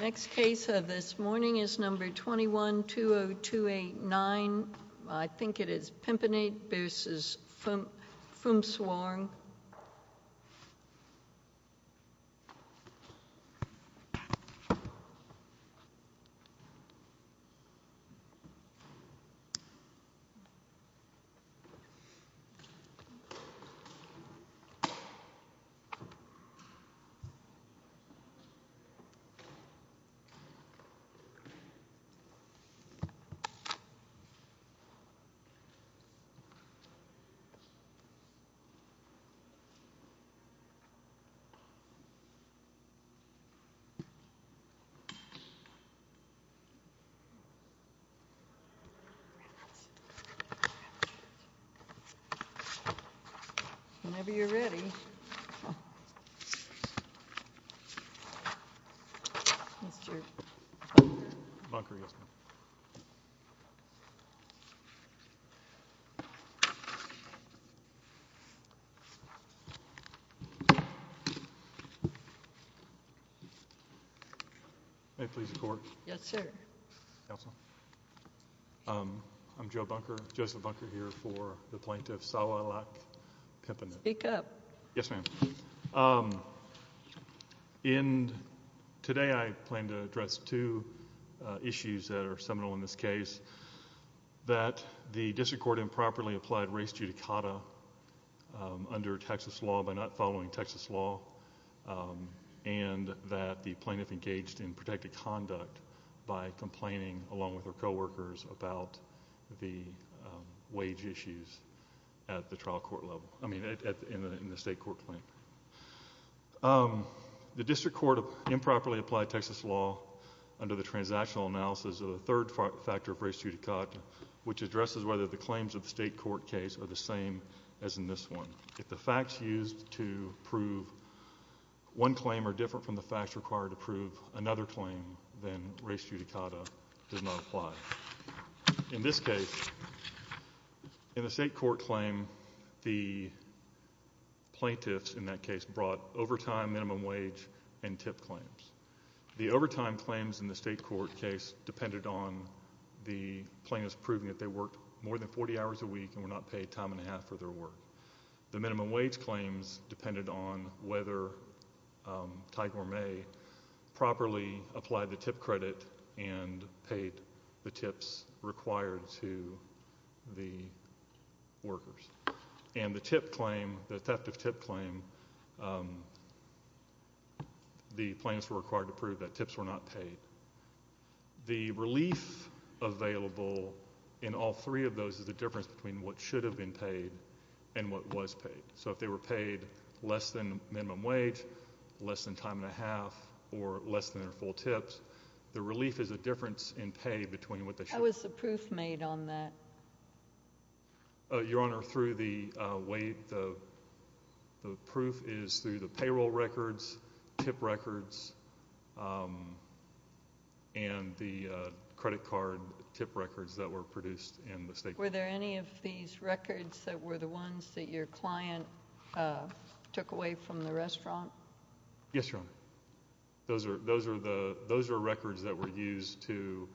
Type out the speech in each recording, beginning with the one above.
Next case of this morning is number 20. Number 21, 20289. Number 20289. Mr. Bunker. Bunker, yes, ma'am. May I please report? Yes, sir. Counsel? I'm Joe Bunker. Joseph Bunker here for the plaintiff. Speak up. Yes, ma'am. Today I plan to address two issues that are seminal in this case. That the district court improperly applied race judicata under Texas law by not following Texas law, and that the plaintiff engaged in protected conduct by complaining, along with her co-workers, about the wage issues at the trial court level, I mean in the state court claim. The district court improperly applied Texas law under the transactional analysis of the third factor of race judicata, which addresses whether the claims of the state court case are the same as in this one. If the facts used to prove one claim are different from the facts required to prove another claim, then race judicata does not apply. In this case, in the state court claim, the plaintiffs in that case brought overtime, minimum wage, and tip claims. The overtime claims in the state court case depended on the plaintiffs proving that they worked more than 40 hours a week and were not paid time and a half for their work. The minimum wage claims depended on whether Tiger or May properly applied the tip credit and paid the tips required to the workers. And the tip claim, the theft of tip claim, the plaintiffs were required to prove that tips were not paid. The relief available in all three of those is the difference between what should have been paid and what was paid. So if they were paid less than minimum wage, less than time and a half, or less than their full tips, the relief is a difference in pay between what they should have. How was the proof made on that? Your Honor, through the weight of the proof is through the payroll records, tip records, and the credit card tip records that were produced in the state court. Were there any of these records that were the ones that your client took away from the restaurant? Yes, Your Honor. Those are records that were used to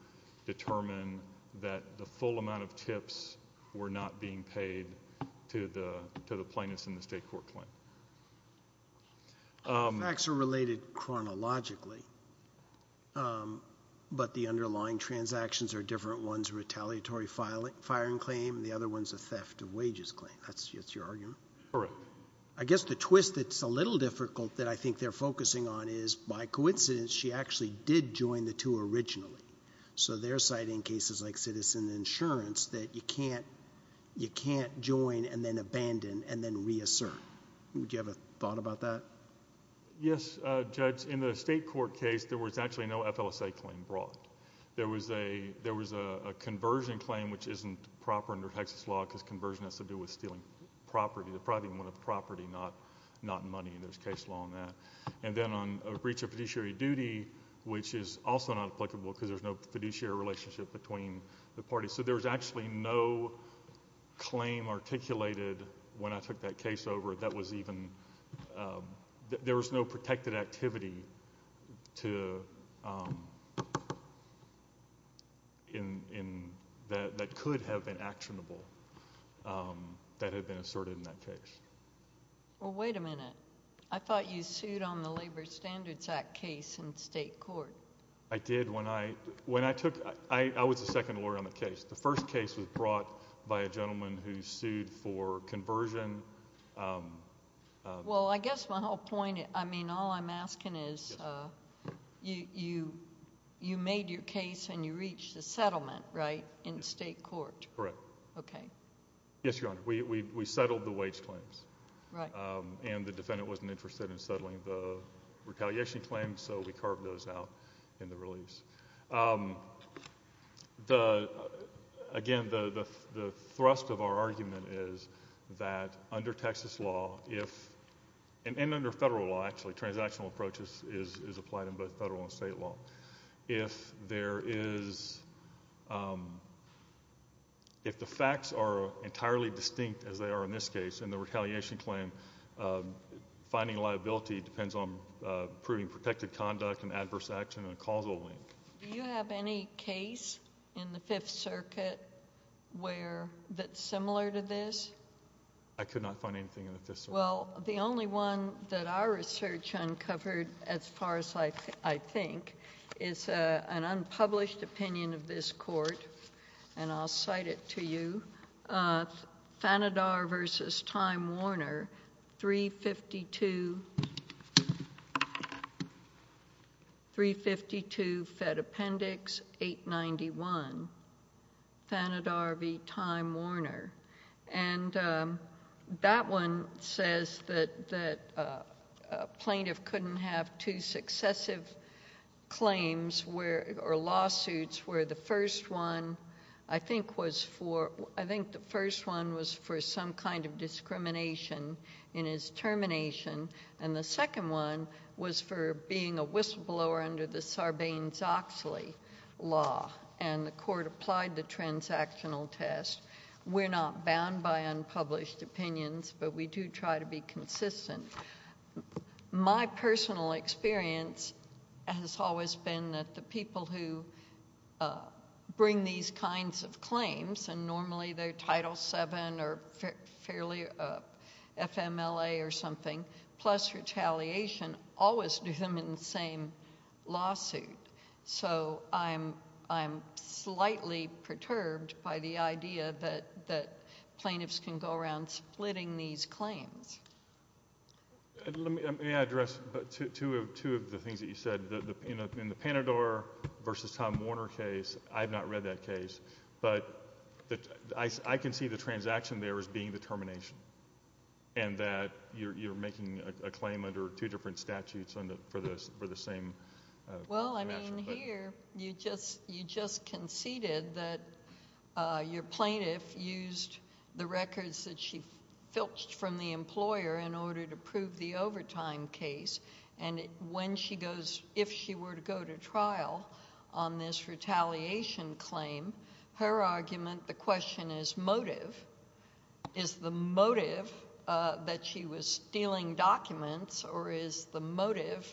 determine that the full amount of tips were not being paid to the plaintiffs in the state court claim. The facts are related chronologically, but the underlying transactions are different. One's a retaliatory firing claim and the other one's a theft of wages claim. That's your argument? Correct. I guess the twist that's a little difficult that I think they're focusing on is, by coincidence, she actually did join the two originally. So they're citing cases like citizen insurance that you can't join and then abandon and then reassert. Would you have a thought about that? Yes, Judge. In the state court case, there was actually no FLSA claim brought. There was a conversion claim, which isn't proper under Texas law because conversion has to do with stealing property, depriving one of the property, not money, and there's case law on that. Then on a breach of fiduciary duty, which is also not applicable because there's no fiduciary relationship between the parties. So there was actually no claim articulated when I took that case over that was even... there was no protected activity that could have been actionable that had been asserted in that case. Well, wait a minute. I thought you sued on the Labor Standards Act case in state court. I did when I took... I was the second lawyer on the case. The first case was brought by a gentleman who sued for conversion. Well, I guess my whole point... I mean, all I'm asking is you made your case and you reached a settlement, right, in state court? Correct. Okay. Yes, Your Honor. We settled the wage claims. Right. And the defendant wasn't interested in settling the retaliation claims, so we carved those out in the release. Again, the thrust of our argument is that under Texas law, if... and under federal law, actually, transactional approaches is applied in both federal and state law. If there is... if the facts are entirely distinct, as they are in this case, in the retaliation claim, finding liability depends on proving protected conduct and adverse action and a causal link. Do you have any case in the Fifth Circuit where... that's similar to this? I could not find anything in the Fifth Circuit. Well, the only one that our research uncovered, as far as I think, is an unpublished opinion of this court, and I'll cite it to you. Thanedar v. Time Warner, 352... 352 Fed Appendix 891. Thanedar v. Time Warner. And that one says that a plaintiff couldn't have two successive claims or lawsuits where the first one, I think, was for... I think the first one was for some kind of discrimination in his termination, and the second one was for being a whistleblower under the Sarbanes-Oxley law, and the court applied the transactional test. We're not bound by unpublished opinions, but we do try to be consistent. My personal experience has always been that the people who bring these kinds of claims, and normally they're Title VII or fairly FMLA or something, plus retaliation, always do them in the same lawsuit. So I'm slightly perturbed by the idea that plaintiffs can go around splitting these claims. Let me address two of the things that you said. In the Thanedar v. Time Warner case, I have not read that case, but I can see the transaction there as being the termination and that you're making a claim under two different statutes for the same... Well, I mean, here you just conceded that your plaintiff used the records that she filched from the employer in order to prove the overtime case, and when she goes, if she were to go to trial on this retaliation claim, her argument, the question is motive. Is the motive that she was stealing documents, or is the motive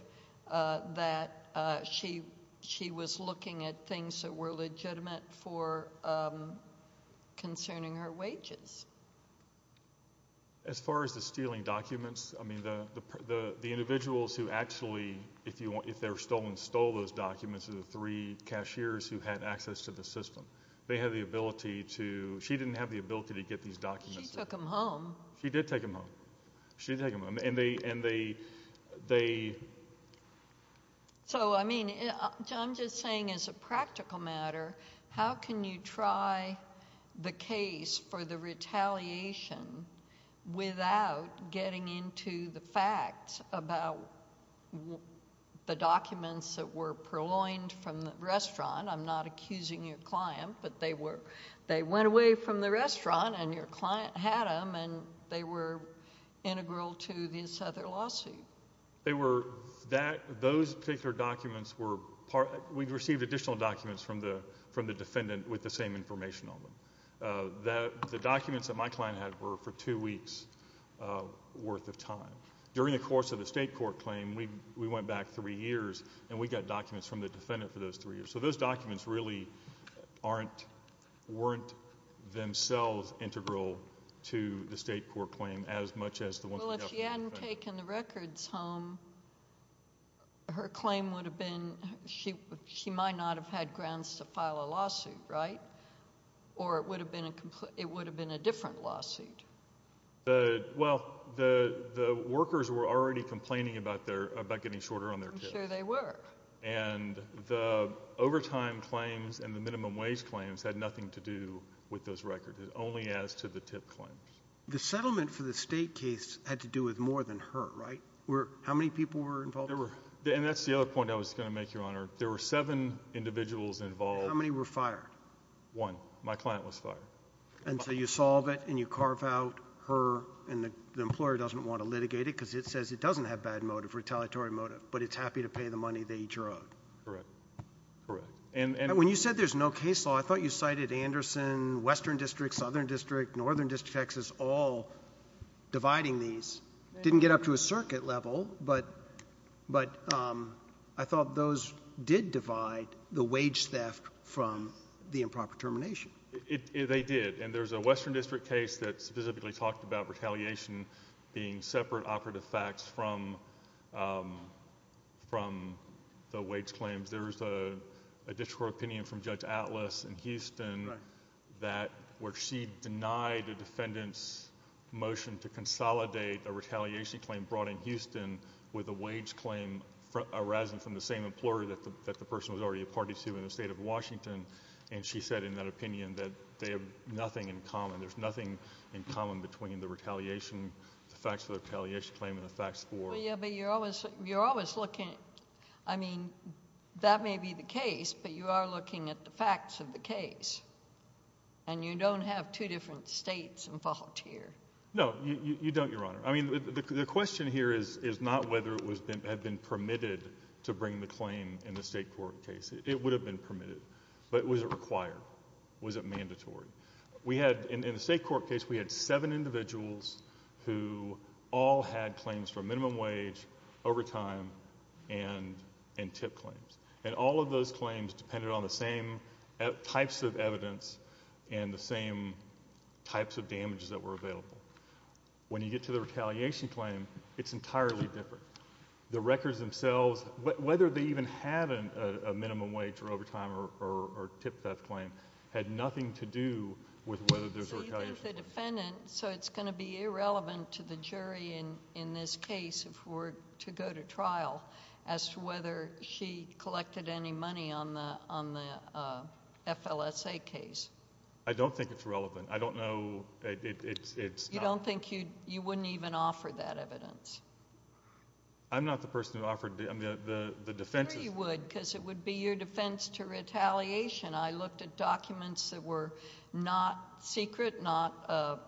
that she was looking at things that were legitimate for concerning her wages? As far as the stealing documents, I mean, the individuals who actually, if they're stolen, stole those documents are the three cashiers who had access to the system. They have the ability to... she didn't have the ability to get these documents. She took them home. She did take them home. She did take them home, and they... So, I mean, I'm just saying as a practical matter, how can you try the case for the retaliation without getting into the facts about the documents that were purloined from the restaurant? I'm not accusing your client, but they went away from the restaurant, and your client had them, and they were integral to this other lawsuit. They were... those particular documents were... we received additional documents from the defendant with the same information on them. The documents that my client had were for two weeks' worth of time. During the course of the state court claim, we went back three years, and we got documents from the defendant for those three years. So, those documents really weren't themselves integral to the state court claim as much as the ones... Well, if she hadn't taken the records home, her claim would have been she might not have had grounds to file a lawsuit, right? Or it would have been a different lawsuit. Well, the workers were already complaining about getting shorter on their tips. I'm sure they were. And, the overtime claims and the minimum wage claims had nothing to do with those records, only as to the tip claims. The settlement for the state case had to do with more than her, right? How many people were involved? And, that's the other point I was going to make, Your Honor. There were seven individuals involved. How many were fired? One. My client was fired. And, so you solve it, and you carve out her, and the employer doesn't want to litigate it, because it says it doesn't have bad motive, retaliatory motive, but it's happy to pay the money they each are owed. Correct. Correct. And... When you said there's no case law, I thought you cited Anderson, Western District, Southern District, Northern District, Texas, all dividing these. Didn't get up to a circuit level, but I thought those did divide the wage theft from the improper termination. They did. And, there's a Western District case that specifically talked about retaliation being separate operative facts from the wage claims. There was a district court opinion from Judge Atlas in Houston... Right.... where she denied the defendant's motion to consolidate a retaliation claim brought in Houston with a wage claim arising from the same employer that the person was already a party to in the state of Washington. And, she said in that opinion that they have nothing in common. There's nothing in common between the retaliation, the facts of the retaliation claim and the facts for... Well, yeah, but you're always looking... I mean, that may be the case, but you are looking at the facts of the case. And, you don't have two different states involved here. No, you don't, Your Honor. I mean, the question here is not whether it had been permitted to bring the claim in the state court case. It would have been permitted. But, was it required? Was it mandatory? We had, in the state court case, we had seven individuals who all had claims for minimum wage, overtime, and tip claims. And, all of those claims depended on the same types of evidence and the same types of damages that were available. When you get to the retaliation claim, it's entirely different. The records themselves, whether they even had a minimum wage or overtime or tip theft claim, had nothing to do with whether there was a retaliation claim. So, you think the defendant... So, it's going to be irrelevant to the jury in this case, if we're to go to trial, as to whether she collected any money on the FLSA case? I don't think it's relevant. I don't know... You don't think you wouldn't even offer that evidence? I'm not the person who offered... I mean, the defense... I'm sure you would, because it would be your defense to retaliation. I looked at documents that were not secret, not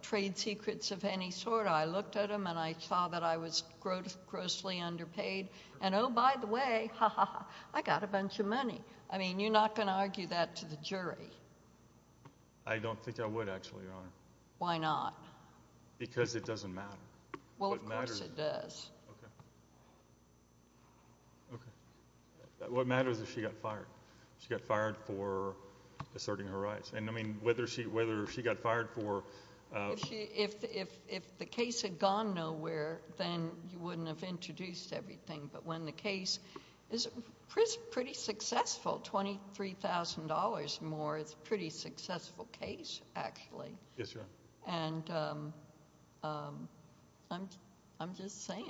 trade secrets of any sort. I looked at them, and I saw that I was grossly underpaid. And, oh, by the way, ha, ha, ha, I got a bunch of money. I mean, you're not going to argue that to the jury. I don't think I would, actually, Your Honor. Why not? Because it doesn't matter. Well, of course it does. Okay. Okay. What matters is she got fired. She got fired for asserting her rights. And, I mean, whether she got fired for... If the case had gone nowhere, then you wouldn't have introduced everything. But when the case is pretty successful, $23,000 more, it's a pretty successful case, actually. Yes, Your Honor. And I'm just saying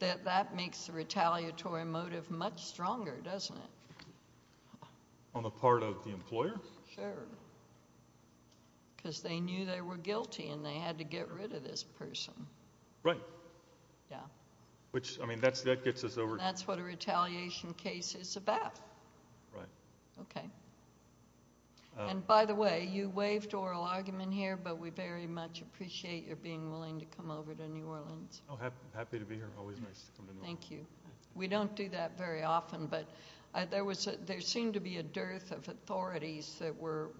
that that makes the retaliatory motive much stronger, doesn't it? On the part of the employer? Sure. Because they knew they were guilty, and they had to get rid of this person. Right. Yeah. Which, I mean, that gets us over... And that's what a retaliation case is about. Right. Okay. And, by the way, you waived oral argument here, but we very much appreciate your being willing to come over to New Orleans. Happy to be here. Always nice to come to New Orleans. Thank you. We don't do that very often, but there seemed to be a dearth of authorities that were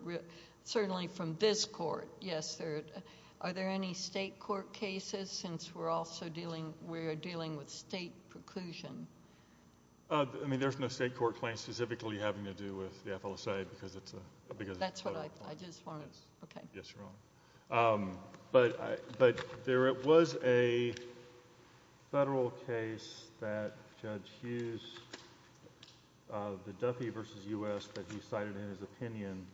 certainly from this court. Yes, are there any state court cases, since we're dealing with state preclusion? I mean, there's no state court claim specifically having to do with the FLSA, because it's a... That's what I did as far as... Yes, Your Honor. But there was a federal case that Judge Hughes, the Duffy v. U.S., that he cited in his opinion.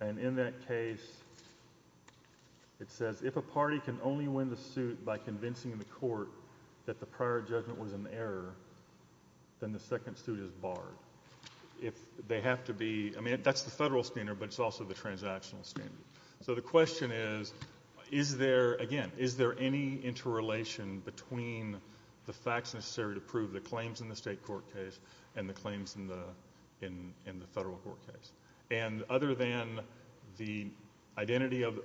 And in that case, it says, if a party can only win the suit by convincing the court that the prior judgment was an error, then the second suit is barred. If they have to be... I mean, that's the federal standard, but it's also the transactional standard. So the question is, is there... Again, is there any interrelation between the facts necessary to prove the claims in the state court case and the claims in the federal court case? And other than the identity of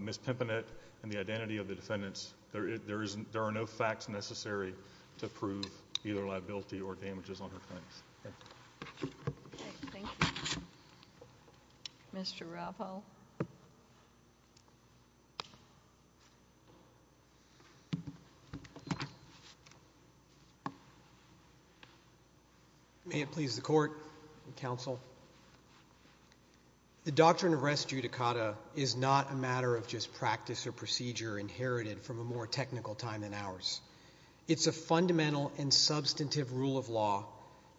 Ms. Pimpanet and the identity of the defendants, there are no facts necessary to prove either liability or damages on her claims. Okay. Thank you. Mr. Raffo? May it please the Court and Counsel. The doctrine of res judicata is not a matter of just practice or procedure inherited from a more technical time than ours. It's a fundamental and substantive rule of law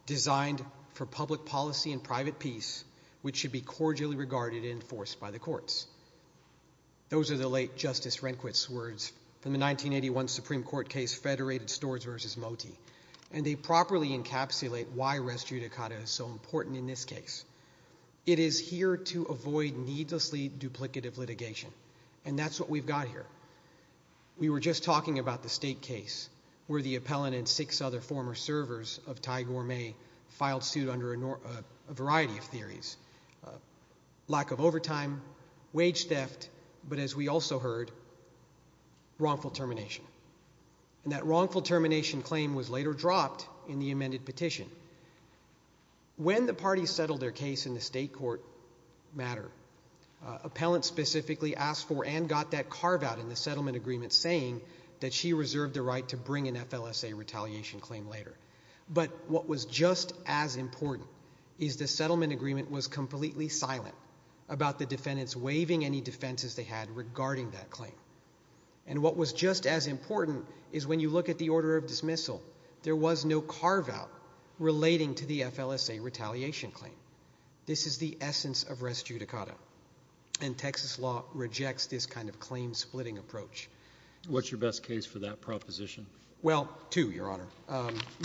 designed for public policy and private peace, which should be cordially regarded and enforced by the courts. Those are the late Justice Rehnquist's words from the 1981 Supreme Court case, Federated Stores v. Moti, and they properly encapsulate why res judicata is so important in this case. It is here to avoid needlessly duplicative litigation, and that's what we've got here. former servers of Ty Gourmet filed suit under a variety of theories. Lack of overtime, wage theft, but as we also heard, wrongful termination. And that wrongful termination claim was later dropped in the amended petition. When the parties settled their case in the state court matter, appellant specifically asked for and got that carve out in the settlement agreement saying that she reserved the right to bring an FLSA retaliation claim later. But what was just as important is the settlement agreement was completely silent about the defendants waiving any defenses they had regarding that claim. And what was just as important is when you look at the order of dismissal, there was no carve out relating to the FLSA retaliation claim. This is the essence of res judicata, and Texas law rejects this kind of claim-splitting approach. What's your best case for that proposition? Well, two, Your Honor.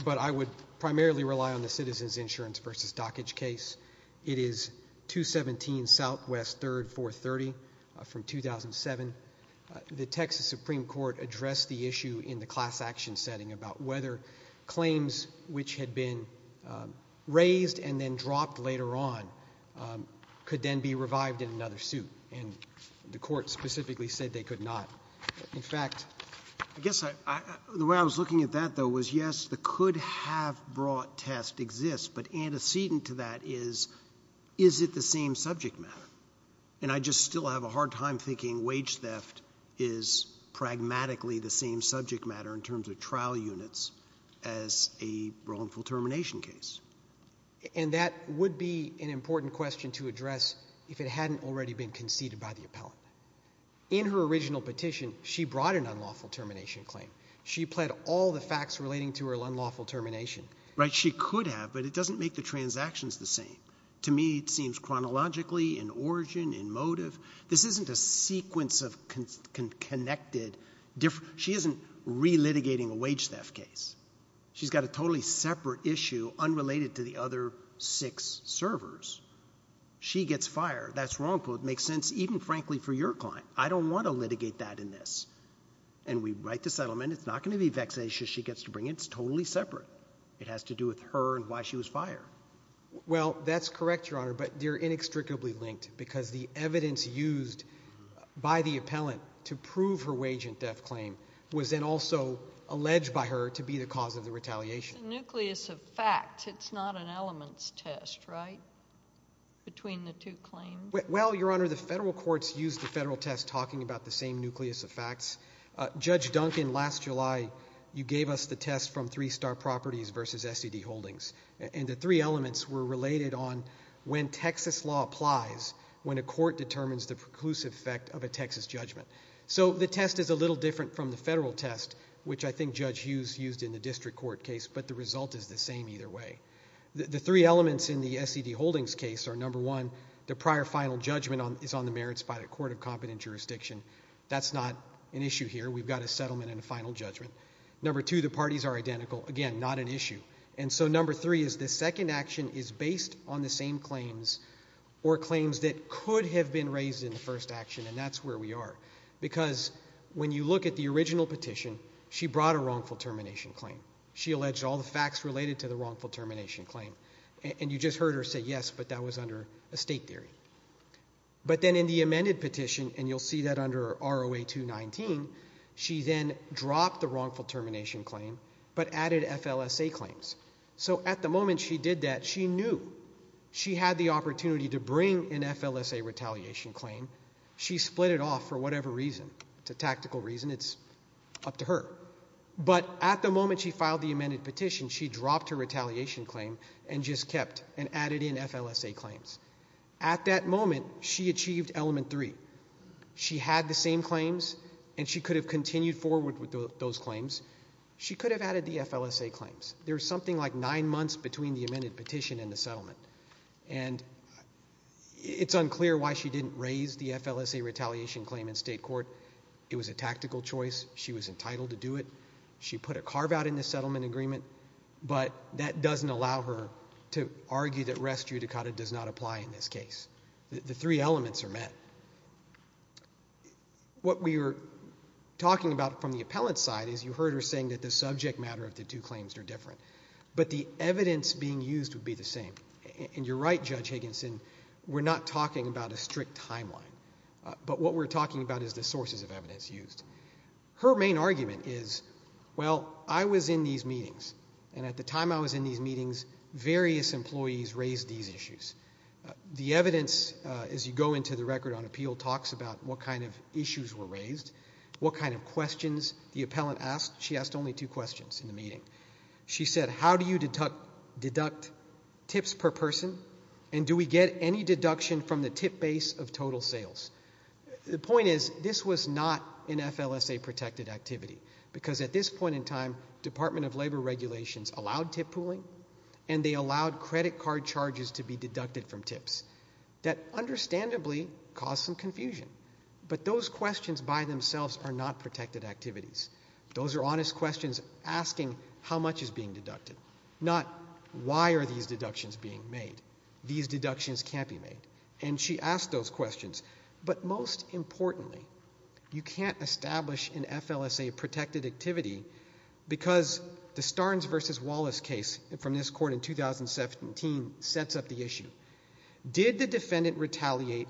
But I would primarily rely on the Citizens Insurance v. Dockage case. It is 217 Southwest 3rd 430 from 2007. The Texas Supreme Court addressed the issue in the class action setting about whether claims which had been raised and then dropped later on could then be revived in another suit. And the court specifically said they could not. In fact, I guess the way I was looking at that, though, was, yes, the could-have-brought test exists, but antecedent to that is, is it the same subject matter? And I just still have a hard time thinking wage theft is pragmatically the same subject matter in terms of trial units as a wrongful termination case. And that would be an important question to address if it hadn't already been conceded by the appellant. In her original petition, she brought an unlawful termination claim. She pled all the facts relating to her unlawful termination. Right, she could have, but it doesn't make the transactions the same. To me, it seems chronologically, in origin, in motive. This isn't a sequence of connected different— she isn't re-litigating a wage theft case. She's got a totally separate issue unrelated to the other six servers. She gets fired. That's wrongful. It makes sense even, frankly, for your client. I don't want to litigate that in this. And we write the settlement. It's not going to be vexatious she gets to bring it. It's totally separate. It has to do with her and why she was fired. Well, that's correct, Your Honor, but they're inextricably linked because the evidence used by the appellant to prove her wage theft claim was then also alleged by her to be the cause of the retaliation. It's a nucleus of facts. It's not an elements test, right, between the two claims? Well, Your Honor, the federal courts use the federal test talking about the same nucleus of facts. Judge Duncan, last July, you gave us the test from Three Star Properties versus SED Holdings, and the three elements were related on when Texas law applies when a court determines the preclusive effect of a Texas judgment. So the test is a little different from the federal test, which I think Judge Hughes used in the district court case, but the result is the same either way. The three elements in the SED Holdings case are, number one, the prior final judgment is on the merits by the court of competent jurisdiction. That's not an issue here. We've got a settlement and a final judgment. Number two, the parties are identical. Again, not an issue. And so number three is the second action is based on the same claims or claims that could have been raised in the first action, and that's where we are. Because when you look at the original petition, she brought a wrongful termination claim. She alleged all the facts related to the wrongful termination claim, and you just heard her say yes, but that was under a state theory. But then in the amended petition, and you'll see that under ROA 219, she then dropped the wrongful termination claim but added FLSA claims. So at the moment she did that, she knew she had the opportunity to bring an FLSA retaliation claim. She split it off for whatever reason. It's a tactical reason. It's up to her. But at the moment she filed the amended petition, she dropped her retaliation claim and just kept and added in FLSA claims. At that moment, she achieved element three. She had the same claims, and she could have continued forward with those claims. She could have added the FLSA claims. There's something like nine months between the amended petition and the settlement, and it's unclear why she didn't raise the FLSA retaliation claim in state court. It was a tactical choice. She was entitled to do it. She put a carve-out in the settlement agreement, but that doesn't allow her to argue that res judicata does not apply in this case. The three elements are met. What we were talking about from the appellant's side is you heard her saying that the subject matter of the two claims are different, but the evidence being used would be the same. And you're right, Judge Higginson, we're not talking about a strict timeline, but what we're talking about is the sources of evidence used. Her main argument is, well, I was in these meetings, and at the time I was in these meetings, various employees raised these issues. The evidence, as you go into the record on appeal, talks about what kind of issues were raised, what kind of questions the appellant asked. She asked only two questions in the meeting. She said, how do you deduct tips per person, and do we get any deduction from the tip base of total sales? The point is this was not an FLSA-protected activity, because at this point in time Department of Labor regulations allowed tip pooling, and they allowed credit card charges to be deducted from tips. That understandably caused some confusion, but those questions by themselves are not protected activities. Those are honest questions asking how much is being deducted, not why are these deductions being made. These deductions can't be made. And she asked those questions. But most importantly, you can't establish an FLSA-protected activity because the Starnes v. Wallace case from this court in 2017 sets up the issue. Did the defendant retaliate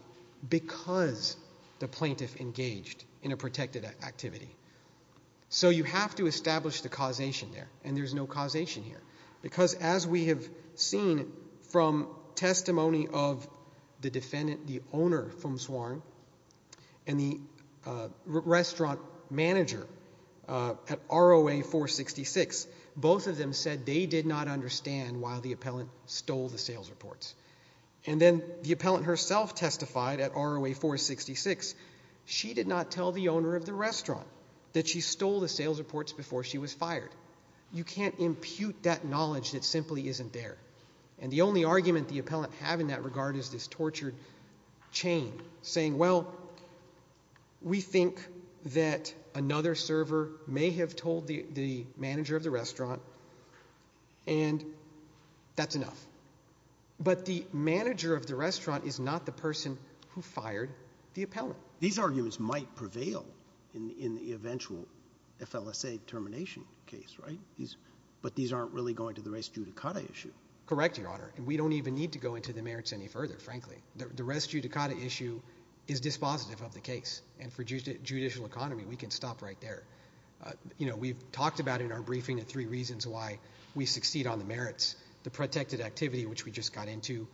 because the plaintiff engaged in a protected activity? So you have to establish the causation there, and there's no causation here, because as we have seen from testimony of the defendant, the owner, Fum Swarn, and the restaurant manager at ROA-466, both of them said they did not understand why the appellant stole the sales reports. And then the appellant herself testified at ROA-466. She did not tell the owner of the restaurant that she stole the sales reports before she was fired. You can't impute that knowledge that simply isn't there. And the only argument the appellant had in that regard is this tortured chain, saying, well, we think that another server may have told the manager of the restaurant, and that's enough. But the manager of the restaurant is not the person who fired the appellant. These arguments might prevail in the eventual FLSA termination case, right? But these aren't really going to the res judicata issue. Correct, Your Honor, and we don't even need to go into the merits any further, frankly. The res judicata issue is dispositive of the case, and for judicial economy, we can stop right there. You know, we've talked about in our briefing the three reasons why we succeed on the merits, the protected activity, which we just got into,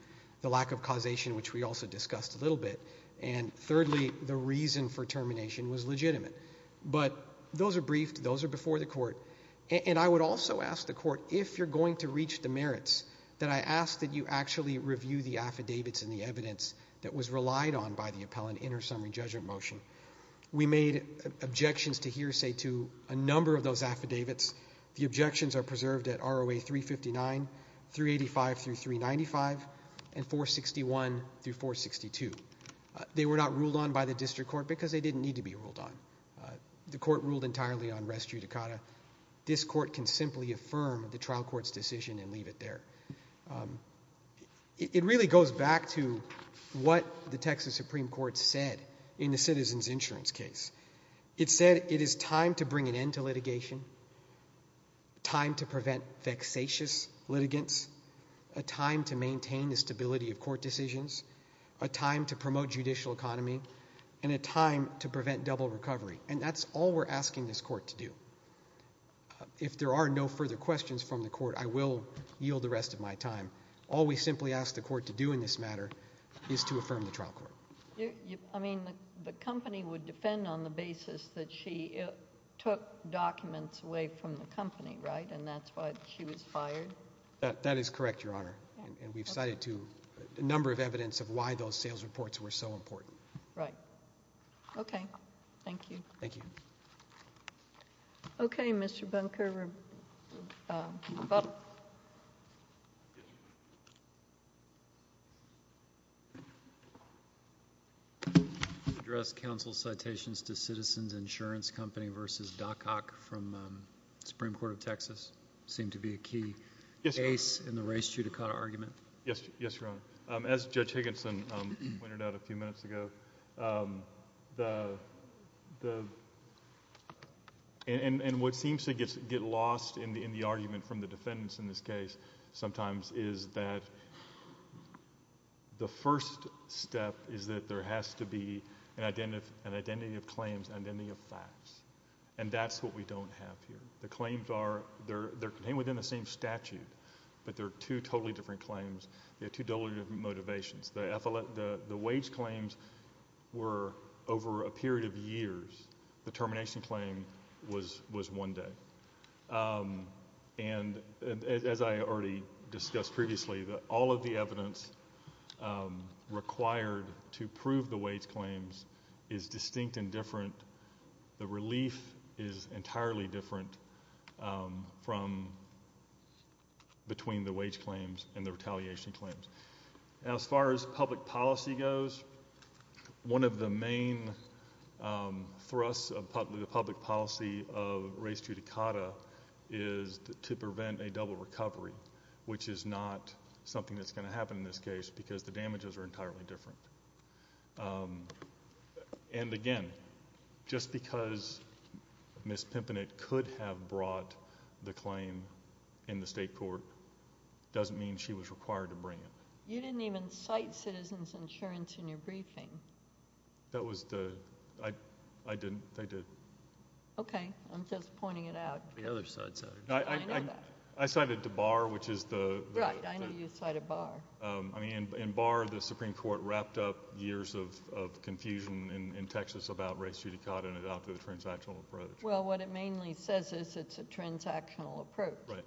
the lack of causation, which we also discussed a little bit, and thirdly, the reason for termination was legitimate. But those are briefed. Those are before the court. And I would also ask the court, if you're going to reach the merits, that I ask that you actually review the affidavits and the evidence that was relied on by the appellant in her summary judgment motion. We made objections to hearsay to a number of those affidavits. The objections are preserved at ROA 359, 385 through 395, and 461 through 462. They were not ruled on by the district court because they didn't need to be ruled on. The court ruled entirely on res judicata. This court can simply affirm the trial court's decision and leave it there. It really goes back to what the Texas Supreme Court said in the citizen's insurance case. It said it is time to bring an end to litigation, time to prevent vexatious litigants, a time to maintain the stability of court decisions, a time to promote judicial economy, and a time to prevent double recovery. And that's all we're asking this court to do. If there are no further questions from the court, I will yield the rest of my time. All we simply ask the court to do in this matter is to affirm the trial court. I mean, the company would defend on the basis that she took documents away from the company, right? And that's why she was fired? That is correct, Your Honor. And we've cited a number of evidence of why those sales reports were so important. Right. Okay. Thank you. Thank you. Okay. Mr. Bunker. Yes, Your Honor. Address counsel's citations to Citizen's Insurance Company v. Doc Ock from the Supreme Court of Texas. Yes, Your Honor. As Judge Higginson pointed out a few minutes ago, and what seems to get lost in the argument from the defendants in this case sometimes is that the first step is that there has to be an identity of claims, an identity of facts. And that's what we don't have here. The claims are contained within the same statute, but they're two totally different claims. They have two totally different motivations. The wage claims were over a period of years. The termination claim was one day. And as I already discussed previously, all of the evidence required to prove the wage claims is distinct and different. The relief is entirely different from between the wage claims and the retaliation claims. As far as public policy goes, one of the main thrusts of public policy of race judicata is to prevent a double recovery, which is not something that's going to happen in this case because the damages are entirely different. And again, just because Ms. Pimpanit could have brought the claim in the state court doesn't mean she was required to bring it. You didn't even cite citizens' insurance in your briefing. That was the... I didn't. They did. Okay. I'm just pointing it out. The other side said it. I know that. I cited the bar, which is the... Right. I know you cited bar. I mean, in bar, the Supreme Court wrapped up years of confusion in Texas about race judicata and adopted a transactional approach. Well, what it mainly says is it's a transactional approach. Right.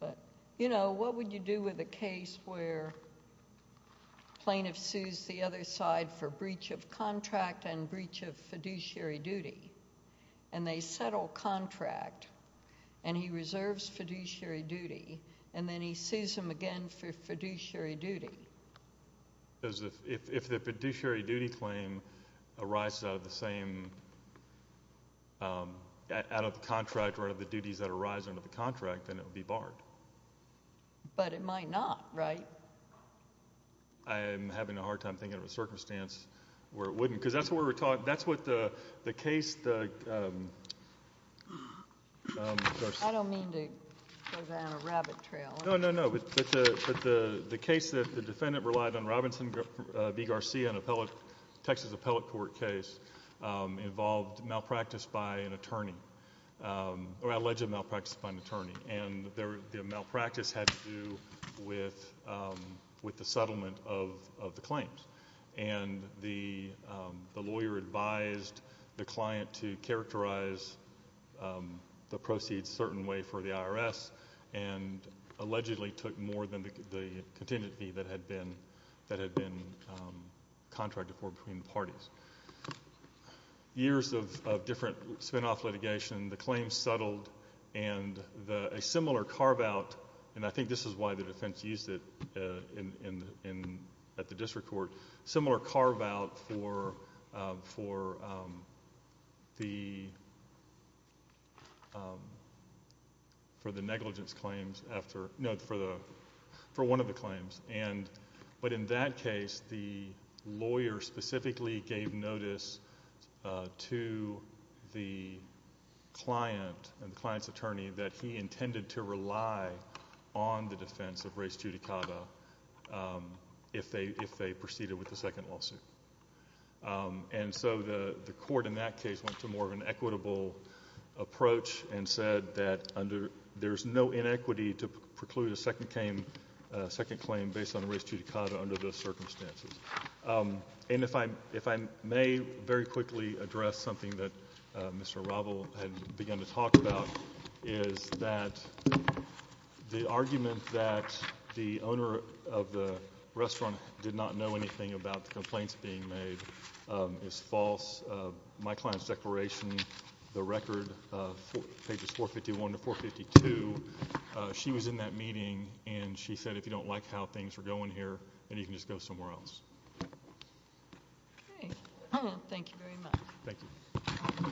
But, you know, what would you do with a case where plaintiff sues the other side for breach of contract and breach of fiduciary duty, and they settle contract, and he reserves fiduciary duty, and then he sues them again for fiduciary duty? If the fiduciary duty claim arises out of the same... out of the contract or out of the duties that arise under the contract, then it would be barred. But it might not, right? I'm having a hard time thinking of a circumstance where it wouldn't. Because that's what we were talking... that's what the case... I don't mean to go down a rabbit trail. No, no, no. But the case that the defendant relied on, Robinson v. Garcia, in a Texas appellate court case, involved malpractice by an attorney, or alleged malpractice by an attorney, and the malpractice had to do with the settlement of the claims. And the lawyer advised the client to characterize the proceeds a certain way for the IRS, and allegedly took more than the contingency that had been contracted for between the parties. Years of different spinoff litigation, the claims settled, and a similar carve-out, and I think this is why the defense used it at the district court, similar carve-out for the negligence claims after... no, for one of the claims. But in that case, the lawyer specifically gave notice to the client, the client's attorney, that he intended to rely on the defense of race judicata if they proceeded with the second lawsuit. And so the court in that case went to more of an equitable approach, and said that there's no inequity to preclude a second claim based on race judicata under those circumstances. And if I may very quickly address something that Mr. Ravel had begun to talk about, is that the argument that the owner of the restaurant did not know anything about the complaints being made is false. My client's declaration, the record, pages 451 to 452, she was in that meeting, and she said if you don't like how things are going here, then you can just go somewhere else. Okay. Thank you very much. Thank you.